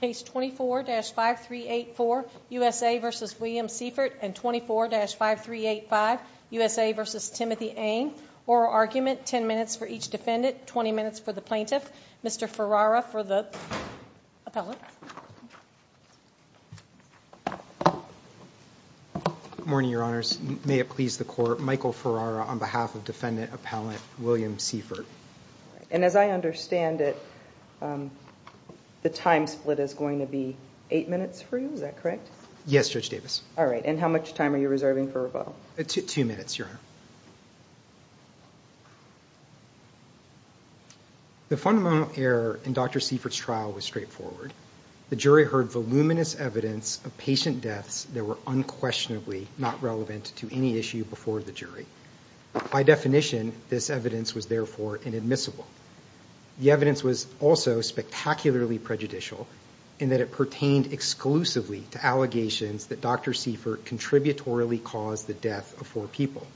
Case 24-5384, USA v. William Siefert and 24-5385, USA v. Timothy Ainge. Oral argument, 10 minutes for each defendant, 20 minutes for the plaintiff. Mr. Ferrara for the appellate. Good morning, your honors. May it please the court, Michael Ferrara on behalf of defendant appellate William Siefert. And as I understand it, the time split is going to be eight minutes for you, is that correct? Yes, Judge Davis. All right, and how much time are you reserving for rebuttal? Two minutes, your honor. The fundamental error in Dr. Siefert's trial was straightforward. The jury heard voluminous evidence of patient deaths that were unquestionably not relevant to any issue before the jury. By definition, this evidence was therefore inadmissible. The evidence was also spectacularly prejudicial in that it pertained exclusively to allegations that Dr. Siefert contributorily caused the death of four people.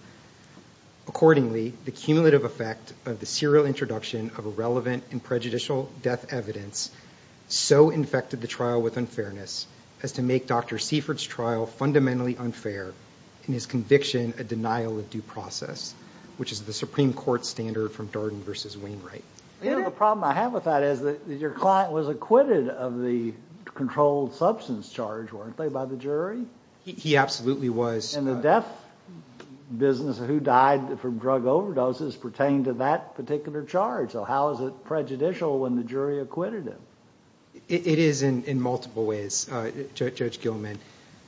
Accordingly, the cumulative effect of the serial introduction of irrelevant and prejudicial death evidence so infected the trial with unfairness as to make Dr. Siefert's trial fundamentally unfair and his conviction a denial of due process, which is the Supreme Court standard from Darden v. Wainwright. The problem I have with that is that your client was acquitted of the controlled substance charge, weren't they, by the jury? He absolutely was. And the death business, who died from drug overdoses, pertained to that particular charge. So how is it prejudicial when the jury acquitted him? It is in multiple ways, Judge Gilman.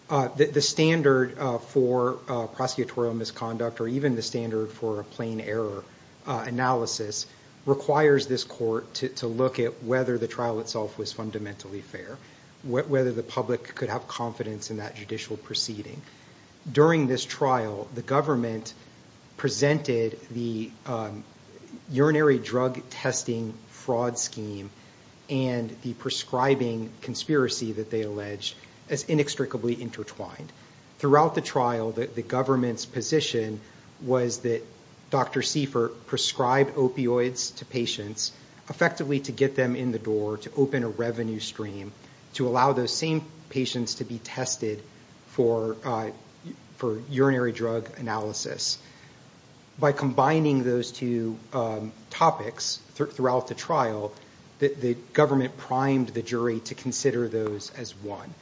The standard for prosecutorial misconduct or even the standard for a plain error analysis requires this court to look at whether the trial itself was fundamentally fair, whether the public could have confidence in that judicial proceeding. During this trial, the government presented the urinary drug testing fraud scheme and the prescribing conspiracy that they alleged as inextricably intertwined. Throughout the trial, the government's position was that Dr. Siefert prescribed opioids to patients effectively to get them in the door, to open a revenue stream, to allow those same patients to be tested for urinary drug analysis. By combining those two topics throughout the trial, the government primed the jury to consider those as one.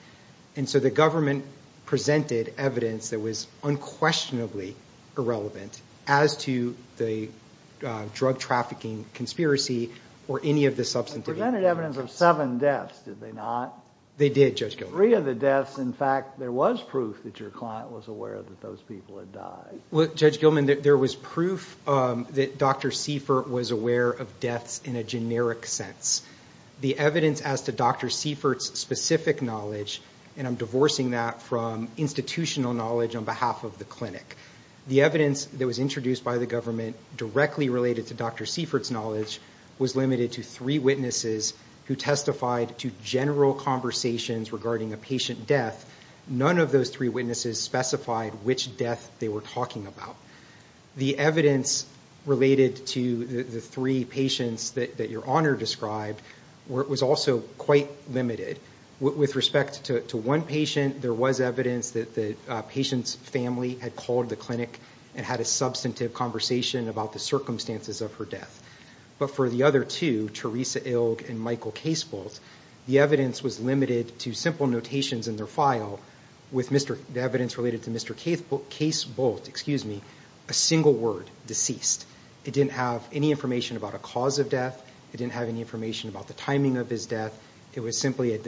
And so the government presented evidence that was unquestionably irrelevant as to the drug trafficking conspiracy or any of the substantive evidence. They presented evidence of seven deaths, did they not? They did, Judge Gilman. Three of the deaths, in fact, there was proof that your client was aware that those people had died. Well, Judge Gilman, there was proof that Dr. Siefert was aware of deaths in a generic sense. The evidence as to Dr. Siefert's specific knowledge, and I'm divorcing that from institutional knowledge on behalf of the clinic, the evidence that was introduced by the government directly related to Dr. Siefert's knowledge was limited to three witnesses who testified to general conversations regarding a patient death. None of those three witnesses specified which death they were talking about. The evidence related to the three patients that your honor described was also quite limited. With respect to one patient, there was evidence that the patient's family had called the clinic and had a substantive conversation about the circumstances of her death. But for the other two, Teresa Ilg and Michael Casebolt, the evidence was limited to simple notations in their file with the evidence related to Mr. Casebolt, a single word, deceased. It didn't have any information about a cause of death. It didn't have any information about the timing of his death. It was simply a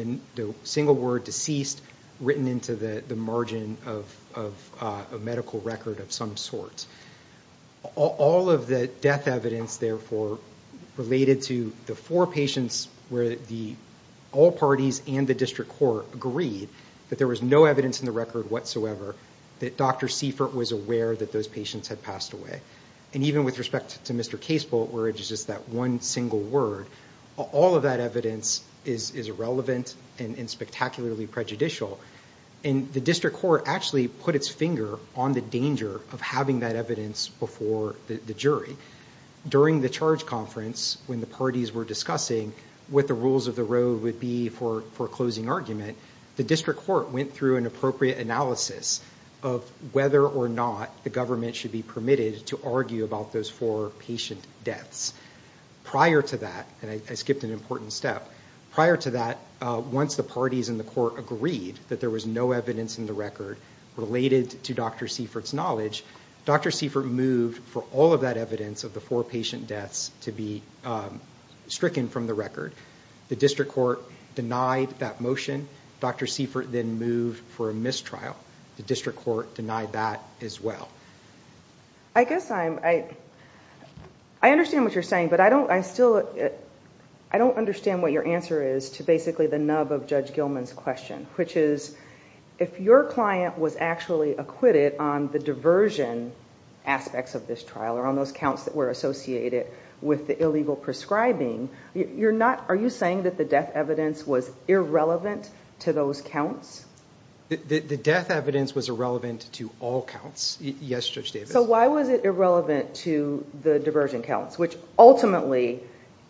single word, deceased, written into the margin of a medical record of some sort. All of the death evidence, therefore, related to the four patients where all parties and the district court agreed that there was no evidence in the record whatsoever that Dr. Siefert was aware that those patients had passed away. And even with respect to Mr. Casebolt, where it's just that one single word, all of that evidence is irrelevant and spectacularly prejudicial. And the district court actually put its finger on the danger of having that evidence before the jury. During the charge conference, when the parties were discussing what the rules of the road would be for closing argument, the district court went through an appropriate analysis of whether or not the government should be permitted to argue about those four patient deaths. Prior to that, and I skipped an important step, prior to that, once the parties and the court agreed that there was no evidence in the record related to Dr. Siefert's knowledge, Dr. Siefert moved for all of that evidence of the four patient deaths to be stricken from the record. The district court denied that motion. Dr. Siefert then moved for a mistrial. The district court denied that as well. I guess I'm, I understand what you're saying, but I don't, I still, I don't understand what your answer is to basically the nub of Judge Gilman's question, which is if your client was actually acquitted on the diversion aspects of this trial, or on those counts that were associated with the illegal prescribing, you're not, are you saying that the death evidence was irrelevant to those counts? The death evidence was irrelevant to all counts. Yes, Judge Davis. So why was it irrelevant to the diversion counts, which ultimately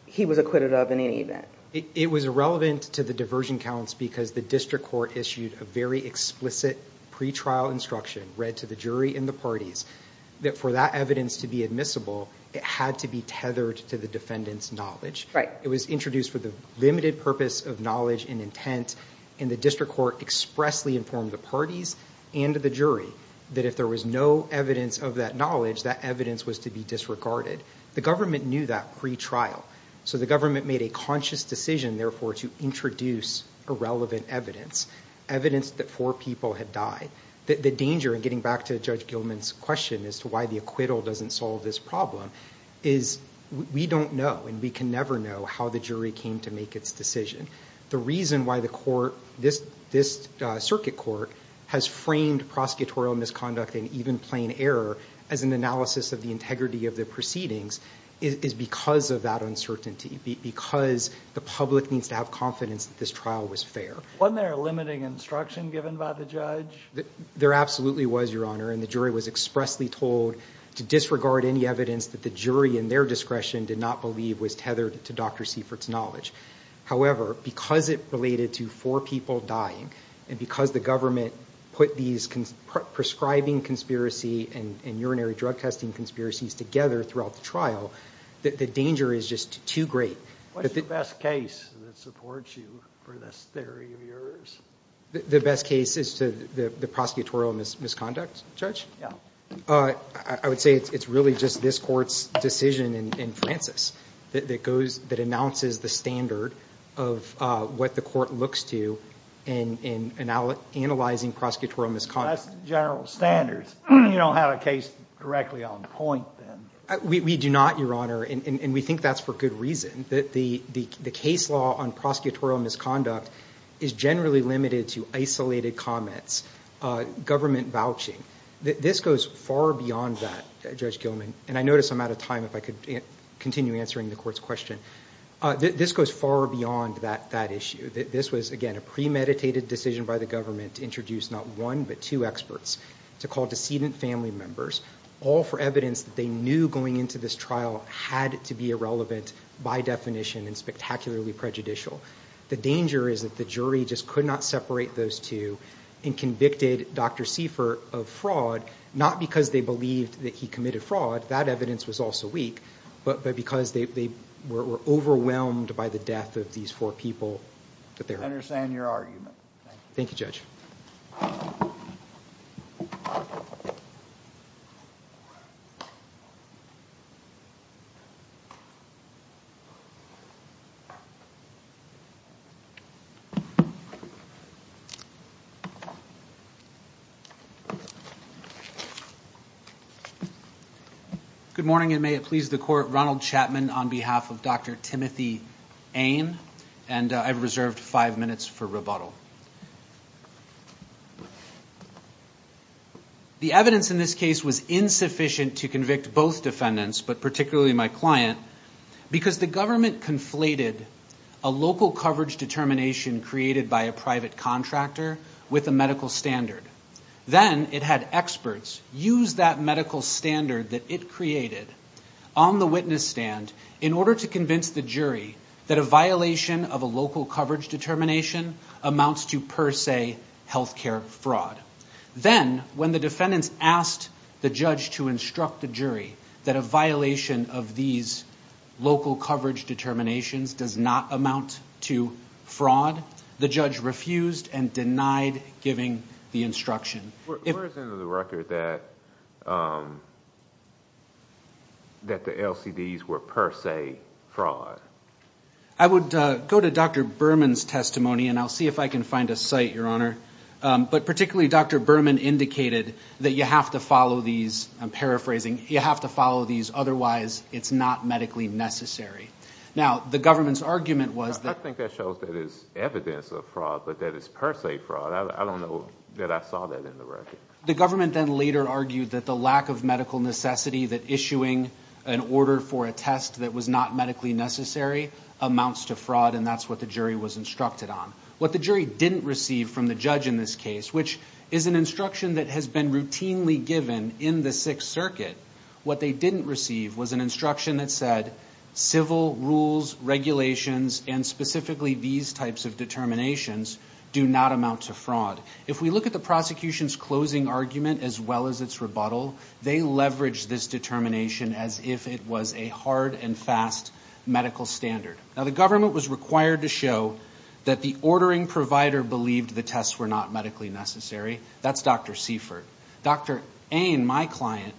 he was acquitted of in any event? It was irrelevant to the diversion counts because the district court issued a very explicit pre-trial instruction, read to the jury and the parties, that for that evidence to be admissible, it had to be tethered to the defendant's knowledge. It was introduced for the limited purpose of knowledge and intent, and the district court expressly informed the parties and the jury that if there was no evidence of that knowledge, that evidence was to be disregarded. The government knew that pre-trial, so the government made a conscious decision, therefore, to introduce irrelevant evidence, evidence that four people had died. The danger, and getting back to Judge Gilman's question as to why the acquittal doesn't solve this problem, is we don't know and we can never know how the jury came to make its decision. The reason why the court, this circuit court, has framed prosecutorial misconduct and even plain error as an analysis of the integrity of the proceedings is because of that uncertainty, because the public needs to have confidence that this trial was fair. Wasn't there a limiting instruction given by the judge? There absolutely was, Your Honor, and the jury was expressly told to disregard any evidence that the jury in their discretion did not believe was tethered to Dr. Seifert's knowledge. However, because it related to four people dying and because the government put these prescribing conspiracy and urinary drug testing conspiracies together throughout the trial, the danger is just too great. What's the best case that supports you for this theory of yours? The best case is the prosecutorial misconduct, Judge? Yeah. I would say it's really just this court's decision in Francis that announces the standard of what the court looks to in analyzing prosecutorial misconduct. That's general standards. You don't have a case directly on point then. We do not, Your Honor, and we think that's for good reason, that the case law on prosecutorial misconduct is generally limited to isolated comments, government vouching. This goes far beyond that, Judge Gilman, and I notice I'm out of time. If I could continue answering the court's question. This goes far beyond that issue. This was, again, a premeditated decision by the government to introduce not one but two experts to call decedent family members, all for evidence that they knew going into this trial had to be irrelevant by definition and spectacularly prejudicial. The danger is that the jury just could not separate those two and convicted Dr. Seifert of fraud, not because they believed that he committed fraud, that evidence was also weak, but because they were overwhelmed by the death of these four people. I understand your argument. Thank you, Judge. Good morning, and may it please the court. Ronald Chapman on behalf of Dr. Timothy Ain, and I've reserved five minutes for rebuttal. The evidence in this case was insufficient to convict both defendants, but particularly my client, because the government conflated a local coverage determination created by a private contractor with a medical standard. Then it had experts use that medical standard that it created on the witness stand in order to convince the jury that a violation of a local coverage determination amounts to per se health care fraud. Then, when the defendants asked the judge to instruct the jury that a violation of these local coverage determinations does not amount to fraud, the judge refused and denied giving the instruction. Where is it in the record that the LCDs were per se fraud? I would go to Dr. Berman's testimony, and I'll see if I can find a site, Your Honor. But particularly, Dr. Berman indicated that you have to follow these, I'm paraphrasing, you have to follow these, otherwise it's not medically necessary. Now, the government's argument was that... I think that shows that it's evidence of fraud, but that it's per se fraud. I don't know that I saw that in the record. The government then later argued that the lack of medical necessity, that issuing an order for a test that was not medically necessary amounts to fraud, and that's what the jury was instructed on. What the jury didn't receive from the judge in this case, which is an instruction that has been routinely given in the Sixth Circuit, what they didn't receive was an instruction that said, civil rules, regulations, and specifically these types of determinations do not amount to fraud. If we look at the prosecution's closing argument as well as its rebuttal, they leveraged this determination as if it was a hard and fast medical standard. Now, the government was required to show that the ordering provider believed the tests were not medically necessary. That's Dr. Seifert. Dr. Ain, my client,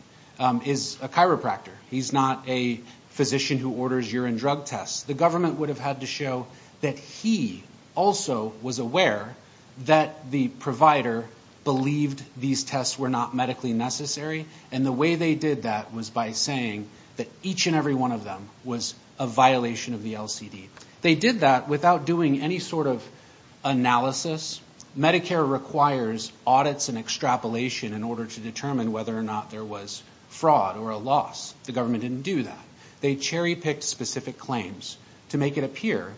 is a chiropractor. He's not a physician who orders urine drug tests. The government would have had to show that he also was aware that the provider believed these tests were not medically necessary, and the way they did that was by saying that each and every one of them was a violation of the LCD. They did that without doing any sort of analysis. Medicare requires audits and extrapolation in order to determine whether or not there was fraud or a loss. The government didn't do that. They cherry-picked specific claims to make it appear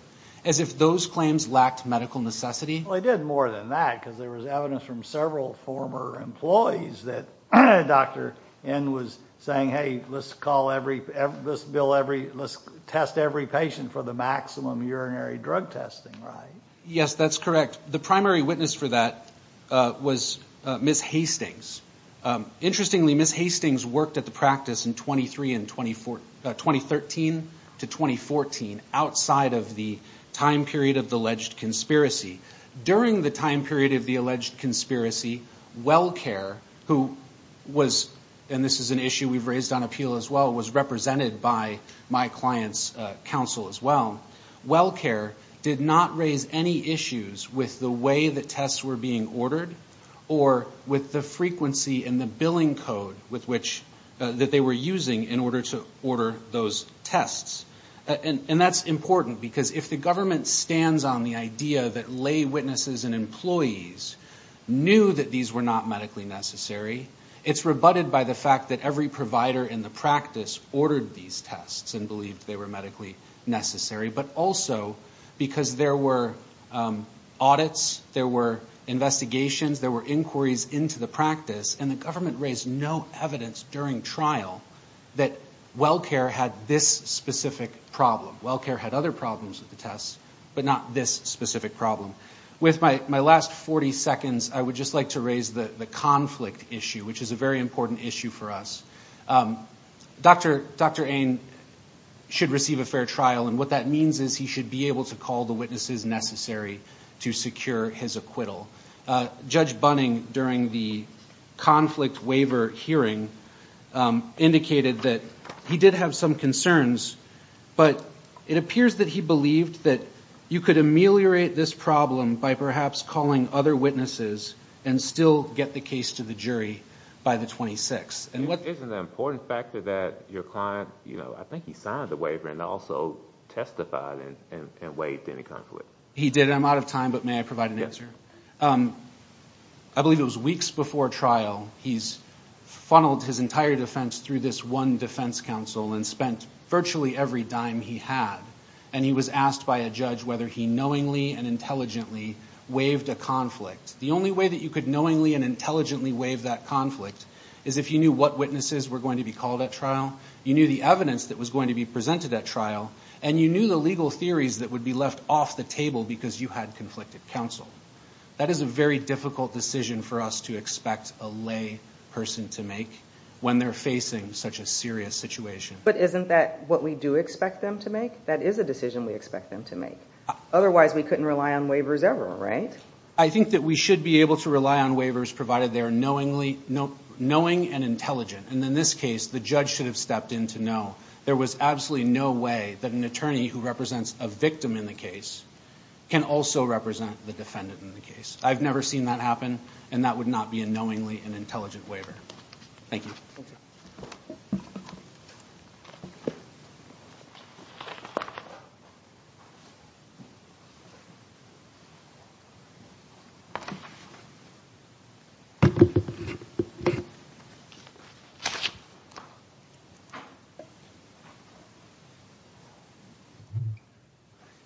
as if those claims lacked medical necessity. Well, they did more than that because there was evidence from several former employees that Dr. Ain was saying, hey, let's test every patient for the maximum urinary drug testing, right? Yes, that's correct. The primary witness for that was Ms. Hastings. Interestingly, Ms. Hastings worked at the practice in 2013 to 2014, outside of the time period of the alleged conspiracy. During the time period of the alleged conspiracy, WellCare, who was, and this is an issue we've raised on appeal as well, was represented by my client's counsel as well. WellCare did not raise any issues with the way that tests were being ordered or with the frequency and the billing code that they were using in order to order those tests. And that's important because if the government stands on the idea that lay witnesses and employees knew that these were not medically necessary, it's rebutted by the fact that every provider in the practice ordered these tests and believed they were medically necessary, but also because there were audits, there were investigations, there were inquiries into the practice, and the government raised no evidence during trial that WellCare had this specific problem. WellCare had other problems with the tests, but not this specific problem. With my last 40 seconds, I would just like to raise the conflict issue, which is a very important issue for us. Dr. Ane should receive a fair trial, and what that means is he should be able to call the witnesses necessary to secure his acquittal. Judge Bunning, during the conflict waiver hearing, indicated that he did have some concerns, but it appears that he believed that you could ameliorate this problem by perhaps calling other witnesses and still get the case to the jury by the 26th. Isn't it an important factor that your client, you know, I think he signed the waiver and also testified and waived any conflict? He did, and I'm out of time, but may I provide an answer? I believe it was weeks before trial, he's funneled his entire defense through this one defense counsel and spent virtually every dime he had, and he was asked by a judge whether he knowingly and intelligently waived a conflict. The only way that you could knowingly and intelligently waive that conflict is if you knew what witnesses were going to be called at trial, you knew the evidence that was going to be presented at trial, and you knew the legal theories that would be left off the table because you had conflicted counsel. That is a very difficult decision for us to expect a lay person to make when they're facing such a serious situation. But isn't that what we do expect them to make? That is a decision we expect them to make. Otherwise, we couldn't rely on waivers ever, right? I think that we should be able to rely on waivers provided they're knowingly and intelligent, and in this case, the judge should have stepped in to know. There was absolutely no way that an attorney who represents a victim in the case can also represent the defendant in the case. I've never seen that happen, and that would not be a knowingly and intelligent waiver. Thank you. Thank you.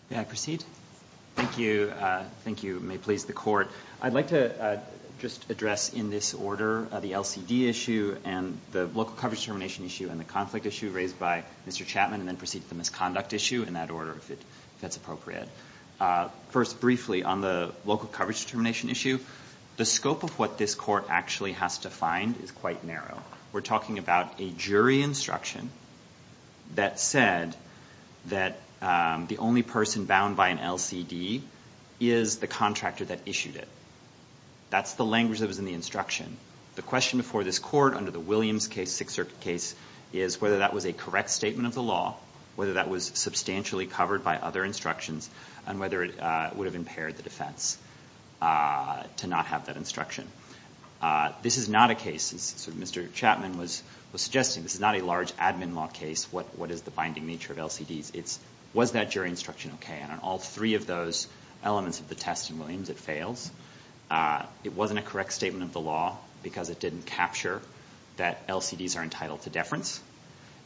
May I proceed? Thank you. Thank you. May it please the Court. I'd like to just address in this order the LCD issue and the local coverage determination issue and the conflict issue raised by Mr. Chapman and then proceed to the misconduct issue in that order if that's appropriate. First, briefly, on the local coverage determination issue, the scope of what this court actually has to find is quite narrow. We're talking about a jury instruction that said that the only person bound by an LCD is the contractor that issued it. That's the language that was in the instruction. The question before this court under the Williams case, Sixth Circuit case, is whether that was a correct statement of the law, whether that was substantially covered by other instructions, and whether it would have impaired the defense to not have that instruction. This is not a case, as Mr. Chapman was suggesting, this is not a large admin law case, what is the binding nature of LCDs. Was that jury instruction okay? And on all three of those elements of the test in Williams, it fails. It wasn't a correct statement of the law because it didn't capture that LCDs are entitled to deference,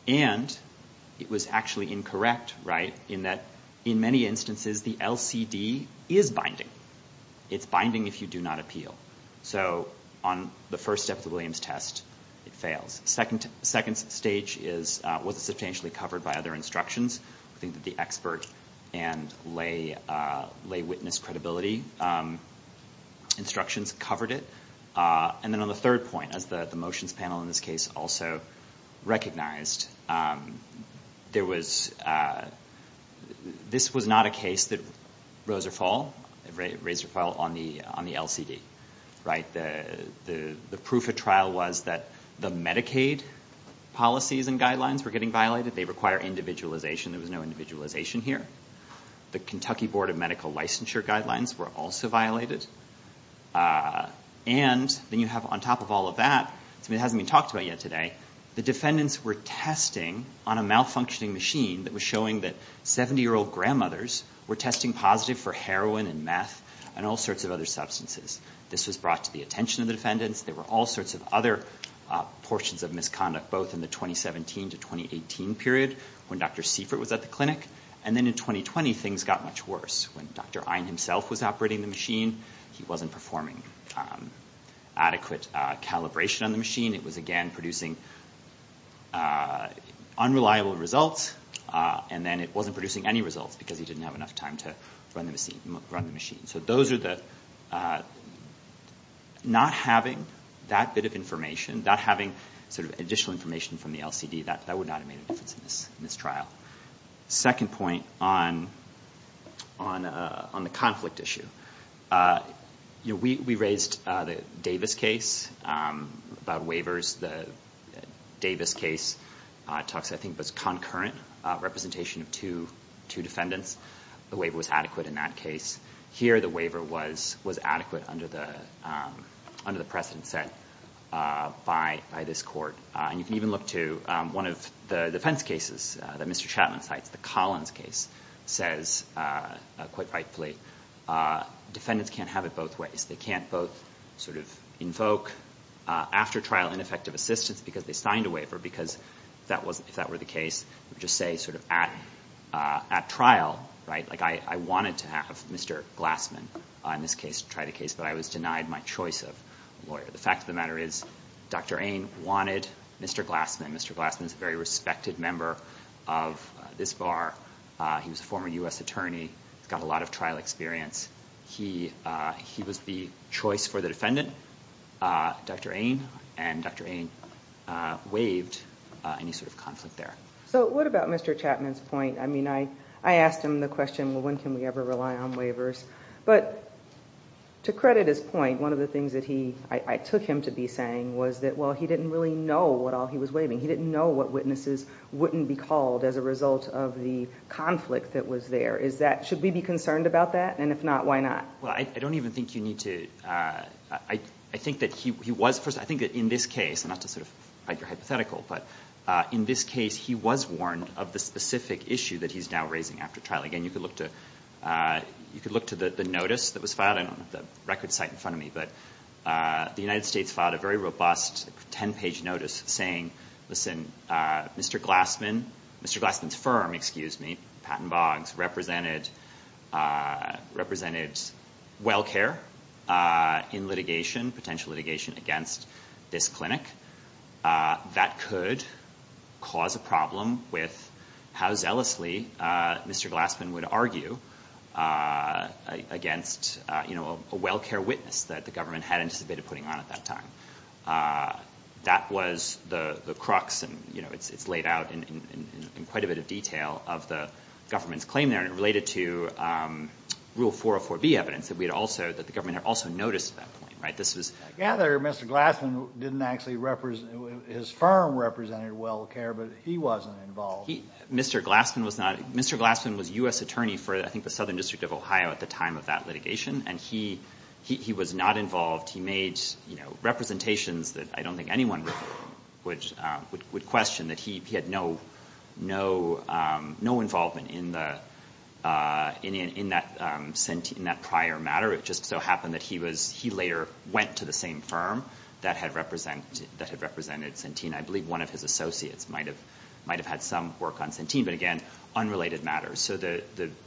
and it was actually incorrect in that, in many instances, the LCD is binding. It's binding if you do not appeal. So on the first step of the Williams test, it fails. Second stage is, was it substantially covered by other instructions? I think that the expert and lay witness credibility instructions covered it. And then on the third point, as the motions panel in this case also recognized, there was, this was not a case that rose or fall on the LCD. The proof of trial was that the Medicaid policies and guidelines were getting violated. They require individualization. There was no individualization here. The Kentucky Board of Medical Licensure guidelines were also violated. And then you have on top of all of that, something that hasn't been talked about yet today, the defendants were testing on a malfunctioning machine that was showing that 70-year-old grandmothers were testing positive for heroin and meth and all sorts of other substances. This was brought to the attention of the defendants. There were all sorts of other portions of misconduct, both in the 2017 to 2018 period, when Dr. Seifert was at the clinic, and then in 2020, things got much worse. When Dr. Ein himself was operating the machine, he wasn't performing adequate calibration on the machine. It was, again, producing unreliable results, and then it wasn't producing any results because he didn't have enough time to run the machine. So those are the, not having that bit of information, not having sort of additional information from the LCD, that would not have made a difference in this trial. Second point on the conflict issue. We raised the Davis case about waivers. The Davis case talks, I think, about concurrent representation of two defendants. The waiver was adequate in that case. Here, the waiver was adequate under the precedent set by this court. And you can even look to one of the defense cases that Mr. Chapman cites, the Collins case, says quite rightfully, defendants can't have it both ways. They can't both sort of invoke after-trial ineffective assistance because they signed a waiver, because if that were the case, it would just say sort of at trial, right, like I wanted to have Mr. Glassman in this case try the case, but I was denied my choice of lawyer. But the fact of the matter is Dr. Ayn wanted Mr. Glassman. Mr. Glassman is a very respected member of this bar. He was a former U.S. attorney, got a lot of trial experience. He was the choice for the defendant. Dr. Ayn and Dr. Ayn waived any sort of conflict there. So what about Mr. Chapman's point? I mean, I asked him the question, well, when can we ever rely on waivers? But to credit his point, one of the things that I took him to be saying was that, well, he didn't really know what all he was waiving. He didn't know what witnesses wouldn't be called as a result of the conflict that was there. Should we be concerned about that? And if not, why not? Well, I don't even think you need to. I think that he was, first, I think that in this case, not to sort of fight your hypothetical, but in this case he was warned of the specific issue that he's now raising after trial. Again, you could look to the notice that was filed. I don't have the record site in front of me, but the United States filed a very robust ten-page notice saying, listen, Mr. Glassman, Mr. Glassman's firm, excuse me, Patten Boggs, represented well care in litigation, potential litigation against this clinic. That could cause a problem with how zealously Mr. Glassman would argue against a well care witness that the government had anticipated putting on at that time. That was the crux, and it's laid out in quite a bit of detail of the government's claim there, and it related to Rule 404B evidence that the government had also noticed at that point. I gather Mr. Glassman, his firm represented well care, but he wasn't involved. Mr. Glassman was U.S. attorney for, I think, the Southern District of Ohio at the time of that litigation, and he was not involved. He made representations that I don't think anyone would question, that he had no involvement in that prior matter. It just so happened that he later went to the same firm that had represented Centene. I believe one of his associates might have had some work on Centene, but again, unrelated matters. So the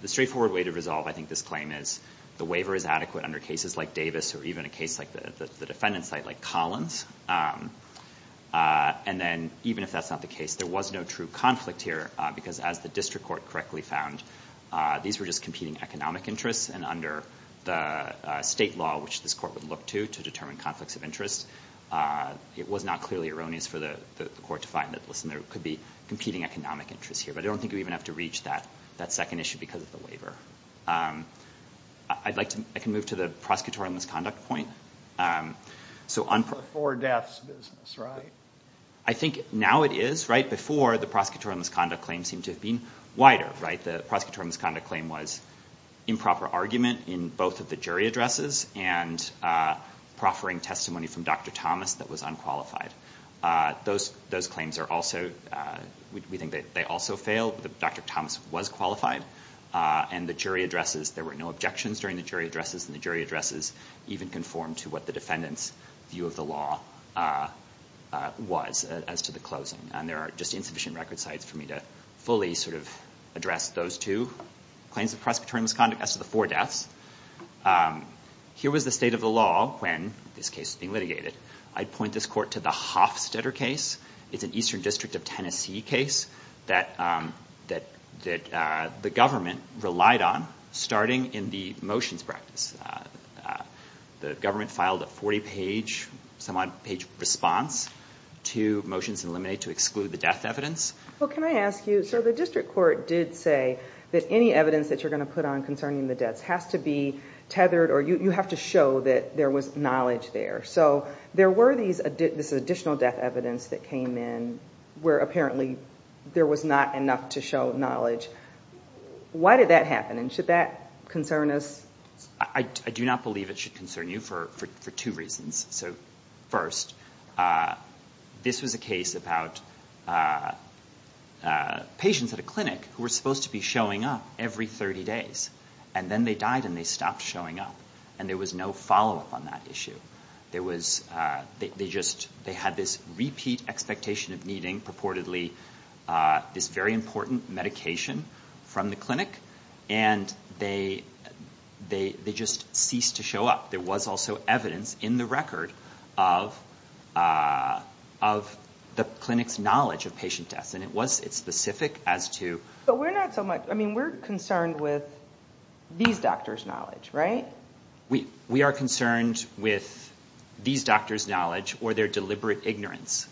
straightforward way to resolve, I think, this claim is the waiver is adequate under cases like Davis or even a case like the defendant's site, like Collins. And then even if that's not the case, there was no true conflict here because as the district court correctly found, these were just competing economic interests, and under the state law, which this court would look to to determine conflicts of interest, it was not clearly erroneous for the court to find that, listen, there could be competing economic interests here. But I don't think we even have to reach that second issue because of the waiver. I can move to the prosecutorial misconduct point. Before death's business, right? I think now it is, right? Before, the prosecutorial misconduct claim seemed to have been wider, right? The prosecutorial misconduct claim was improper argument in both of the jury addresses and proffering testimony from Dr. Thomas that was unqualified. Those claims are also, we think that they also failed. Dr. Thomas was qualified. And the jury addresses, there were no objections during the jury addresses, and the jury addresses even conformed to what the defendant's view of the law was as to the closing. And there are just insufficient record sites for me to fully sort of address those two claims of prosecutorial misconduct as to the four deaths. Here was the state of the law when this case was being litigated. I'd point this court to the Hofstetter case. It's an Eastern District of Tennessee case that the government relied on, starting in the motions practice. The government filed a 40-page, some-odd-page response to motions in limine to exclude the death evidence. Well, can I ask you, so the district court did say that any evidence that you're going to put on concerning the deaths has to be tethered, or you have to show that there was knowledge there. So there were these additional death evidence that came in where apparently there was not enough to show knowledge. Why did that happen, and should that concern us? I do not believe it should concern you for two reasons. So first, this was a case about patients at a clinic who were supposed to be showing up every 30 days, and then they died and they stopped showing up, and there was no follow-up on that issue. They had this repeat expectation of needing, purportedly, this very important medication from the clinic, and they just ceased to show up. There was also evidence in the record of the clinic's knowledge of patient deaths, and it was specific as to... But we're not so much... I mean, we're concerned with these doctors' knowledge, right? We are concerned with these doctors' knowledge or their deliberate ignorance,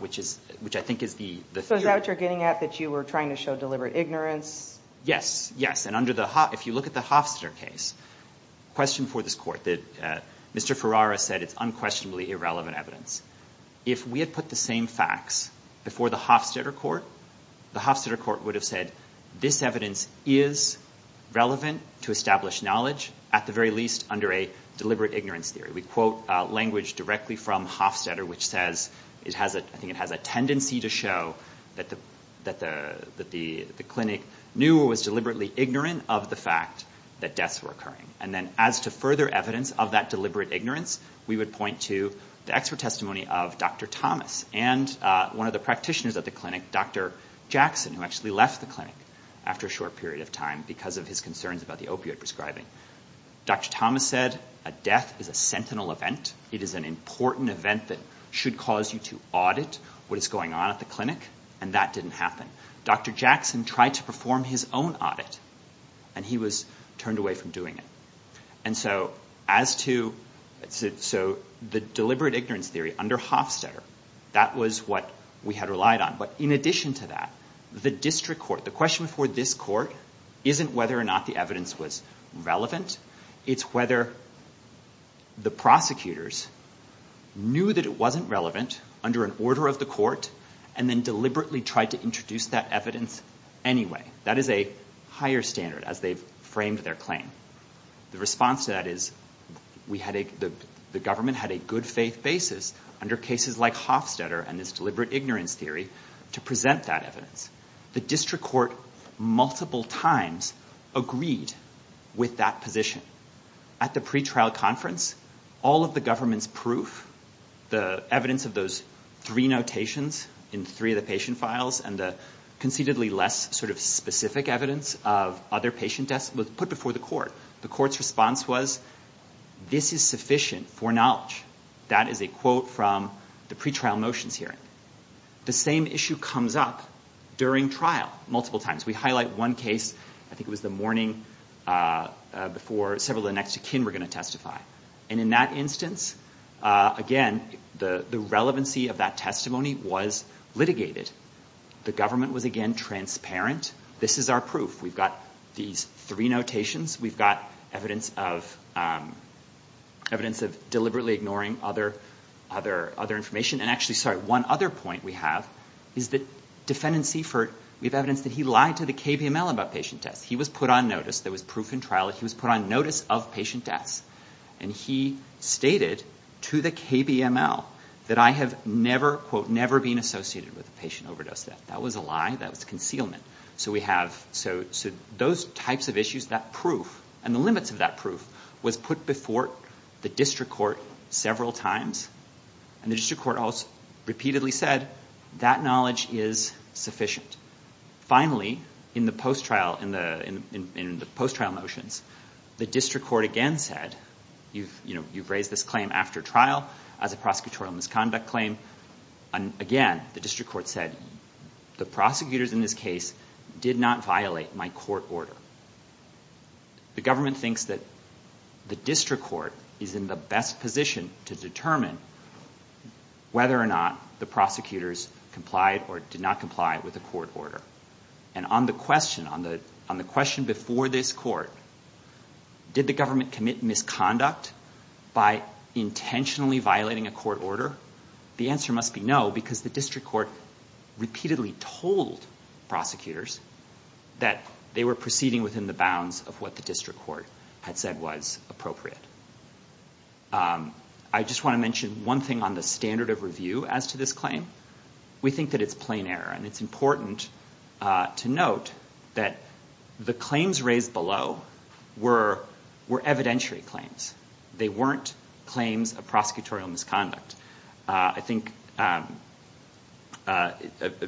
which I think is the... So is that what you're getting at, that you were trying to show deliberate ignorance? Yes, yes, and if you look at the Hofstadter case, the question for this court that Mr. Ferrara said it's unquestionably irrelevant evidence, if we had put the same facts before the Hofstadter court, the Hofstadter court would have said, this evidence is relevant to establish knowledge, at the very least under a deliberate ignorance theory. We quote language directly from Hofstadter, which says, I think it has a tendency to show that the clinic knew or was deliberately ignorant of the fact that deaths were occurring. And then as to further evidence of that deliberate ignorance, we would point to the expert testimony of Dr. Thomas and one of the practitioners at the clinic, Dr. Jackson, who actually left the clinic after a short period of time because of his concerns about the opioid prescribing. Dr. Thomas said, a death is a sentinel event. It is an important event that should cause you to audit what is going on at the clinic, and that didn't happen. Dr. Jackson tried to perform his own audit, and he was turned away from doing it. So the deliberate ignorance theory under Hofstadter, that was what we had relied on. But in addition to that, the district court, the question before this court, isn't whether or not the evidence was relevant. It's whether the prosecutors knew that it wasn't relevant under an order of the court and then deliberately tried to introduce that evidence anyway. That is a higher standard as they've framed their claim. The response to that is the government had a good faith basis under cases like Hofstadter and this deliberate ignorance theory to present that evidence. The district court multiple times agreed with that position. At the pretrial conference, all of the government's proof, the evidence of those three notations in three of the patient files and the concededly less specific evidence of other patient deaths was put before the court. The court's response was, this is sufficient for knowledge. That is a quote from the pretrial motions hearing. The same issue comes up during trial multiple times. We highlight one case, I think it was the morning before several of the next of kin were going to testify. And in that instance, again, the relevancy of that testimony was litigated. The government was again transparent. This is our proof. We've got these three notations. We've got evidence of deliberately ignoring other information. And actually, sorry, one other point we have is that defendant Seifert, we have evidence that he lied to the KVML about patient deaths. He was put on notice. There was proof in trial that he was put on notice of patient deaths. And he stated to the KVML that I have never, quote, never been associated with a patient overdose death. That was a lie. That was concealment. So we have those types of issues, that proof, and the limits of that proof, was put before the district court several times. And the district court repeatedly said, that knowledge is sufficient. Finally, in the post-trial motions, the district court again said, you've raised this claim after trial as a prosecutorial misconduct claim. Again, the district court said, the prosecutors in this case did not violate my court order. The government thinks that the district court is in the best position to determine whether or not the prosecutors complied or did not comply with the court order. And on the question, on the question before this court, did the government commit misconduct by intentionally violating a court order? The answer must be no, because the district court repeatedly told prosecutors that they were proceeding within the bounds of what the district court had said was appropriate. I just want to mention one thing on the standard of review as to this claim. We think that it's plain error. And it's important to note that the claims raised below were evidentiary claims. They weren't claims of prosecutorial misconduct. I think an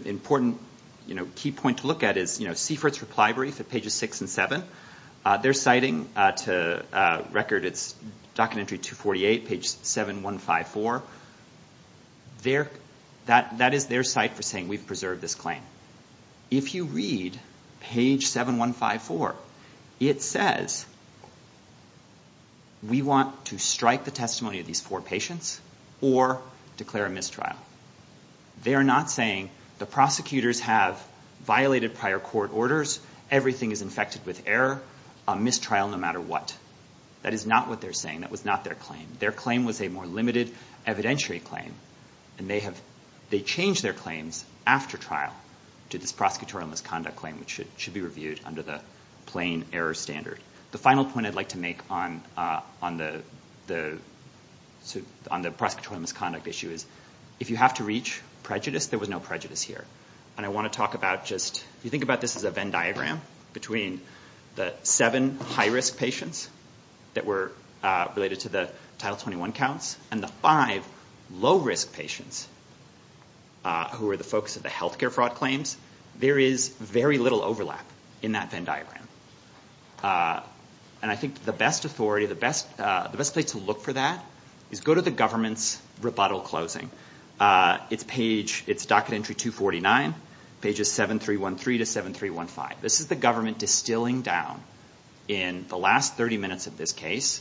important key point to look at is Seifert's reply brief at pages 6 and 7. They're citing to record its documentary 248, page 7154. That is their site for saying we've preserved this claim. If you read page 7154, it says, we want to strike the testimony of these four patients or declare a mistrial. They are not saying the prosecutors have violated prior court orders. Everything is infected with error, a mistrial no matter what. That is not what they're saying. That was not their claim. Their claim was a more limited evidentiary claim. And they have changed their claims after trial to this prosecutorial misconduct claim, which should be reviewed under the plain error standard. The final point I'd like to make on the prosecutorial misconduct issue is, if you have to reach prejudice, there was no prejudice here. And I want to talk about just, if you think about this as a Venn diagram between the seven high-risk patients that were related to the Title 21 counts and the five low-risk patients who were the focus of the health care fraud claims, there is very little overlap in that Venn diagram. And I think the best authority, the best place to look for that, is go to the government's rebuttal closing. It's page, it's docket entry 249, pages 7, 3, 1, 3 to 7, 3, 1, 5. This is the government distilling down in the last 30 minutes of this case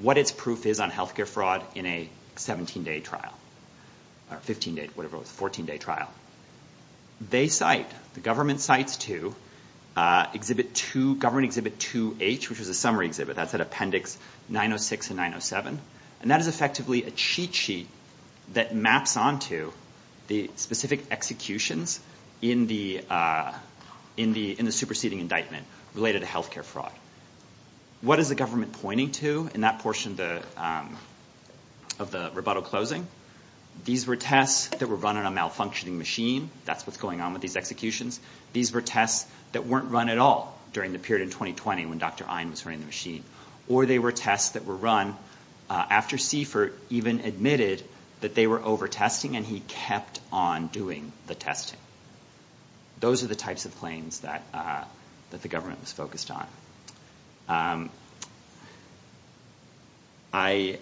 what its proof is on health care fraud in a 17-day trial, or 15-day, whatever it was, 14-day trial. They cite, the government cites to exhibit 2, government exhibit 2H, which is a summary exhibit. That's at appendix 906 and 907. And that is effectively a cheat sheet that maps onto the specific executions in the superseding indictment related to health care fraud. What is the government pointing to in that portion of the rebuttal closing? These were tests that were run on a malfunctioning machine. That's what's going on with these executions. These were tests that weren't run at all during the period in 2020 when Dr. Ein was running the machine. Or they were tests that were run after Seifert even admitted that they were over-testing and he kept on doing the testing. Those are the types of claims that the government was focused on. I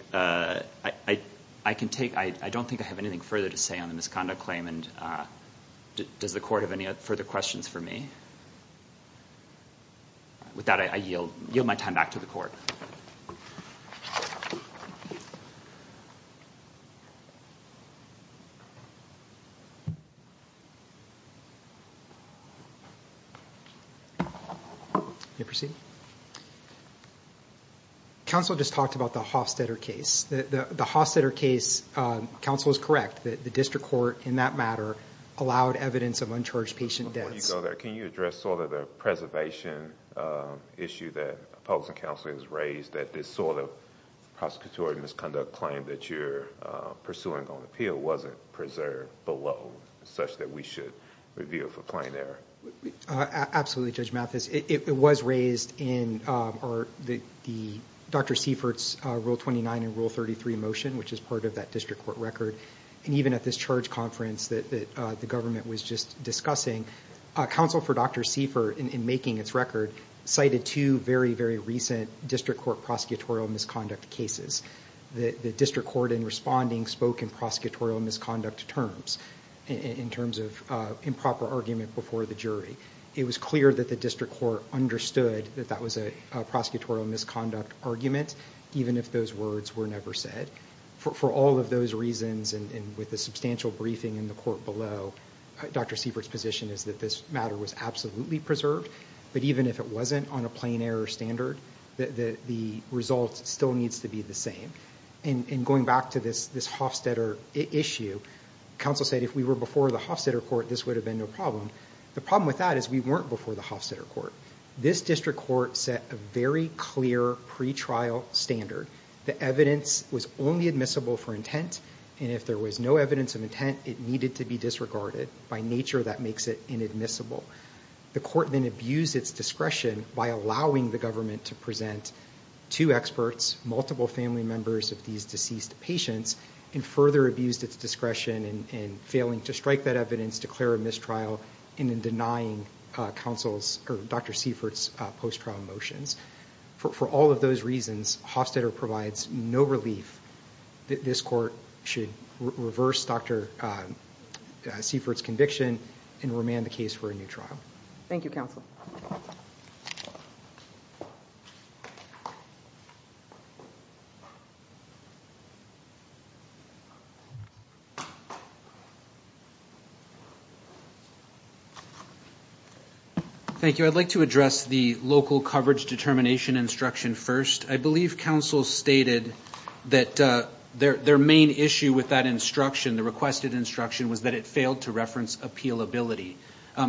don't think I have anything further to say on the misconduct claim, and does the court have any further questions for me? With that, I yield my time back to the court. You may proceed. Counsel just talked about the Hofstetter case. The Hofstetter case, counsel is correct, the district court in that matter allowed evidence of uncharged patient deaths. Before you go there, can you address the preservation issue that public counsel has raised that this sort of prosecutorial misconduct claim that you're pursuing on appeal wasn't preserved below such that we should review it for claim error? Absolutely, Judge Mathis. It was raised in Dr. Seifert's Rule 29 and Rule 33 motion, which is part of that district court record. Even at this charge conference that the government was just discussing, counsel for Dr. Seifert, in making its record, cited two very, very recent district court prosecutorial misconduct cases. The district court in responding spoke in prosecutorial misconduct terms in terms of improper argument before the jury. It was clear that the district court understood that that was a prosecutorial misconduct argument, even if those words were never said. For all of those reasons and with the substantial briefing in the court below, Dr. Seifert's position is that this matter was absolutely preserved, but even if it wasn't on a plain error standard, the result still needs to be the same. Going back to this Hofstetter issue, counsel said if we were before the Hofstetter court, this would have been no problem. The problem with that is we weren't before the Hofstetter court. This district court set a very clear pretrial standard. The evidence was only admissible for intent, and if there was no evidence of intent, it needed to be disregarded. By nature, that makes it inadmissible. The court then abused its discretion by allowing the government to present two experts, multiple family members of these deceased patients, and further abused its discretion in failing to strike that evidence, declare a mistrial, and in denying Dr. Seifert's post-trial motions. For all of those reasons, Hofstetter provides no relief. This court should reverse Dr. Seifert's conviction and remand the case for a new trial. Thank you, counsel. Thank you. I'd like to address the local coverage determination instruction first. I believe counsel stated that their main issue with that instruction, the requested instruction, was that it failed to reference appealability.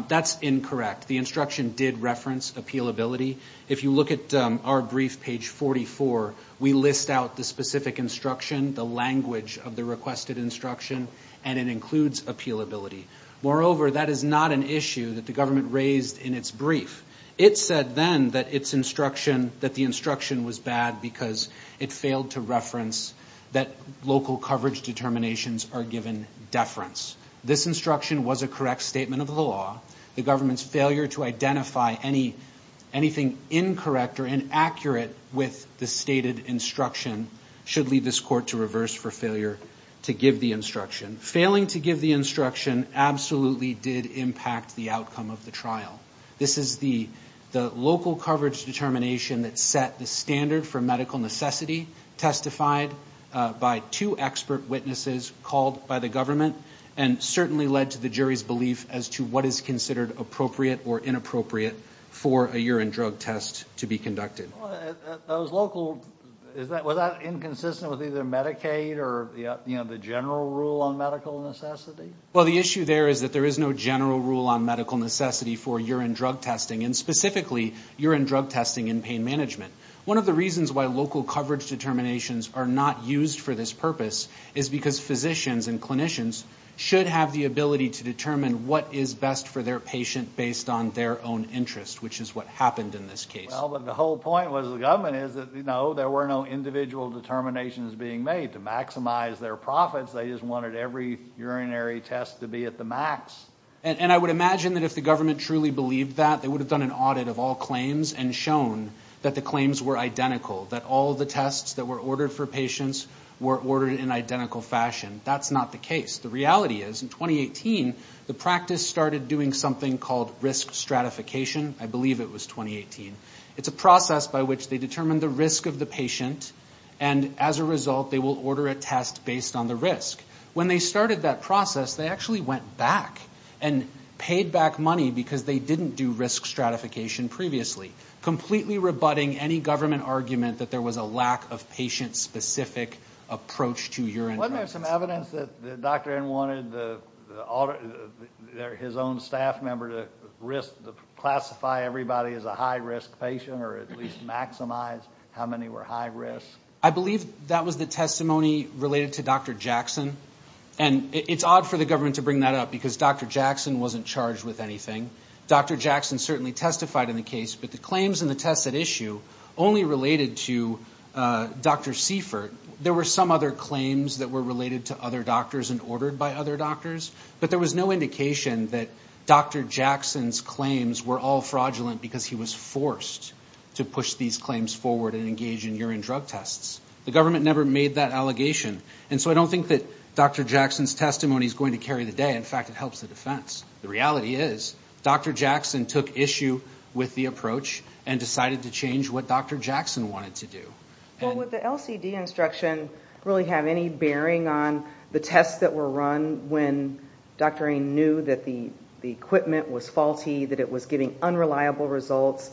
That's incorrect. The instruction did reference appealability. If you look at our brief, page 44, we list out the specific instruction, the language of the requested instruction, and it includes appealability. Moreover, that is not an issue that the government raised in its brief. It said then that the instruction was bad because it failed to reference that local coverage determinations are given deference. This instruction was a correct statement of the law. The government's failure to identify anything incorrect or inaccurate with the stated instruction should lead this court to reverse for failure to give the instruction. Failing to give the instruction absolutely did impact the outcome of the trial. This is the local coverage determination that set the standard for medical necessity testified by two expert witnesses called by the government and certainly led to the jury's belief as to what is considered appropriate or inappropriate for a urine drug test to be conducted. Was that inconsistent with either Medicaid or the general rule on medical necessity? Well, the issue there is that there is no general rule on medical necessity for urine drug testing, and specifically urine drug testing in pain management. One of the reasons why local coverage determinations are not used for this purpose is because physicians and clinicians should have the ability to determine what is best for their patient based on their own interest, which is what happened in this case. Well, but the whole point was the government is that, you know, there were no individual determinations being made to maximize their profits. They just wanted every urinary test to be at the max. And I would imagine that if the government truly believed that, they would have done an audit of all claims and shown that the claims were identical, that all the tests that were ordered for patients were ordered in identical fashion. That's not the case. The reality is in 2018 the practice started doing something called risk stratification. I believe it was 2018. It's a process by which they determine the risk of the patient, and as a result they will order a test based on the risk. When they started that process, they actually went back and paid back money because they didn't do risk stratification previously, completely rebutting any government argument that there was a lack of patient-specific approach to urine drugs. Wasn't there some evidence that Dr. N wanted his own staff member to classify everybody as a high-risk patient or at least maximize how many were high-risk? I believe that was the testimony related to Dr. Jackson, and it's odd for the government to bring that up because Dr. Jackson wasn't charged with anything. Dr. Jackson certainly testified in the case, but the claims and the tests at issue only related to Dr. Seifert. There were some other claims that were related to other doctors and ordered by other doctors, but there was no indication that Dr. Jackson's claims were all fraudulent because he was forced to push these claims forward and engage in urine drug tests. The government never made that allegation, and so I don't think that Dr. Jackson's testimony is going to carry the day. In fact, it helps the defense. The reality is Dr. Jackson took issue with the approach and decided to change what Dr. Jackson wanted to do. Well, would the LCD instruction really have any bearing on the tests that were run when Dr. N knew that the equipment was faulty, that it was getting unreliable results?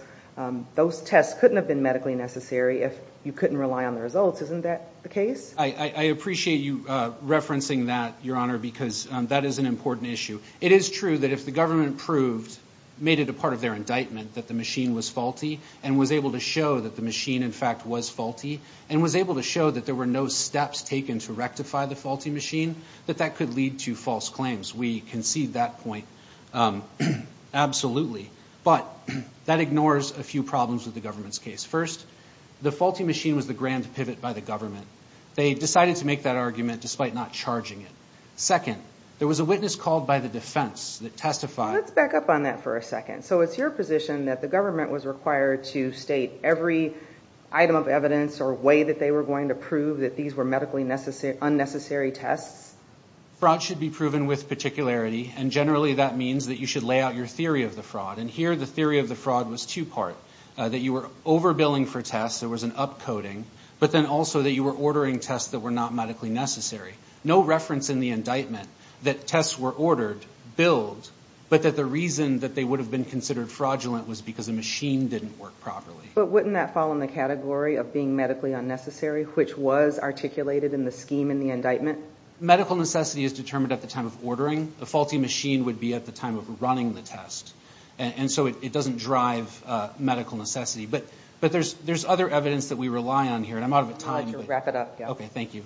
Those tests couldn't have been medically necessary if you couldn't rely on the results. Isn't that the case? I appreciate you referencing that, Your Honor, because that is an important issue. It is true that if the government proved, made it a part of their indictment, that the machine was faulty and was able to show that the machine, in fact, was faulty and was able to show that there were no steps taken to rectify the faulty machine, that that could lead to false claims. We concede that point absolutely, but that ignores a few problems with the government's case. First, the faulty machine was the grand pivot by the government. They decided to make that argument despite not charging it. Second, there was a witness called by the defense that testified. Let's back up on that for a second. So it's your position that the government was required to state every item of evidence or way that they were going to prove that these were medically unnecessary tests? Fraud should be proven with particularity, and generally that means that you should lay out your theory of the fraud, and here the theory of the fraud was two-part, that you were over-billing for tests, there was an up-coding, but then also that you were ordering tests that were not medically necessary. No reference in the indictment that tests were ordered, billed, but that the reason that they would have been considered fraudulent was because the machine didn't work properly. But wouldn't that fall in the category of being medically unnecessary, which was articulated in the scheme in the indictment? And medical necessity is determined at the time of ordering. A faulty machine would be at the time of running the test, and so it doesn't drive medical necessity. But there's other evidence that we rely on here, and I'm out of time. I'll let you wrap it up. Okay, thank you.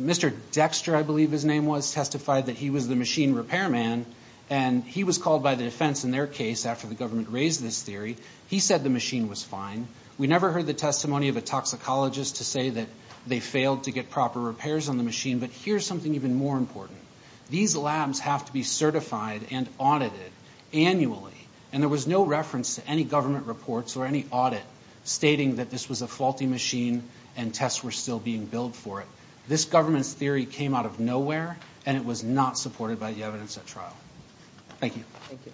Mr. Dexter, I believe his name was, testified that he was the machine repairman, and he was called by the defense in their case after the government raised this theory. He said the machine was fine. We never heard the testimony of a toxicologist to say that they failed to get proper repairs on the machine, but here's something even more important. These labs have to be certified and audited annually, and there was no reference to any government reports or any audit stating that this was a faulty machine and tests were still being billed for it. This government's theory came out of nowhere, and it was not supported by the evidence at trial. Thank you. Thank you.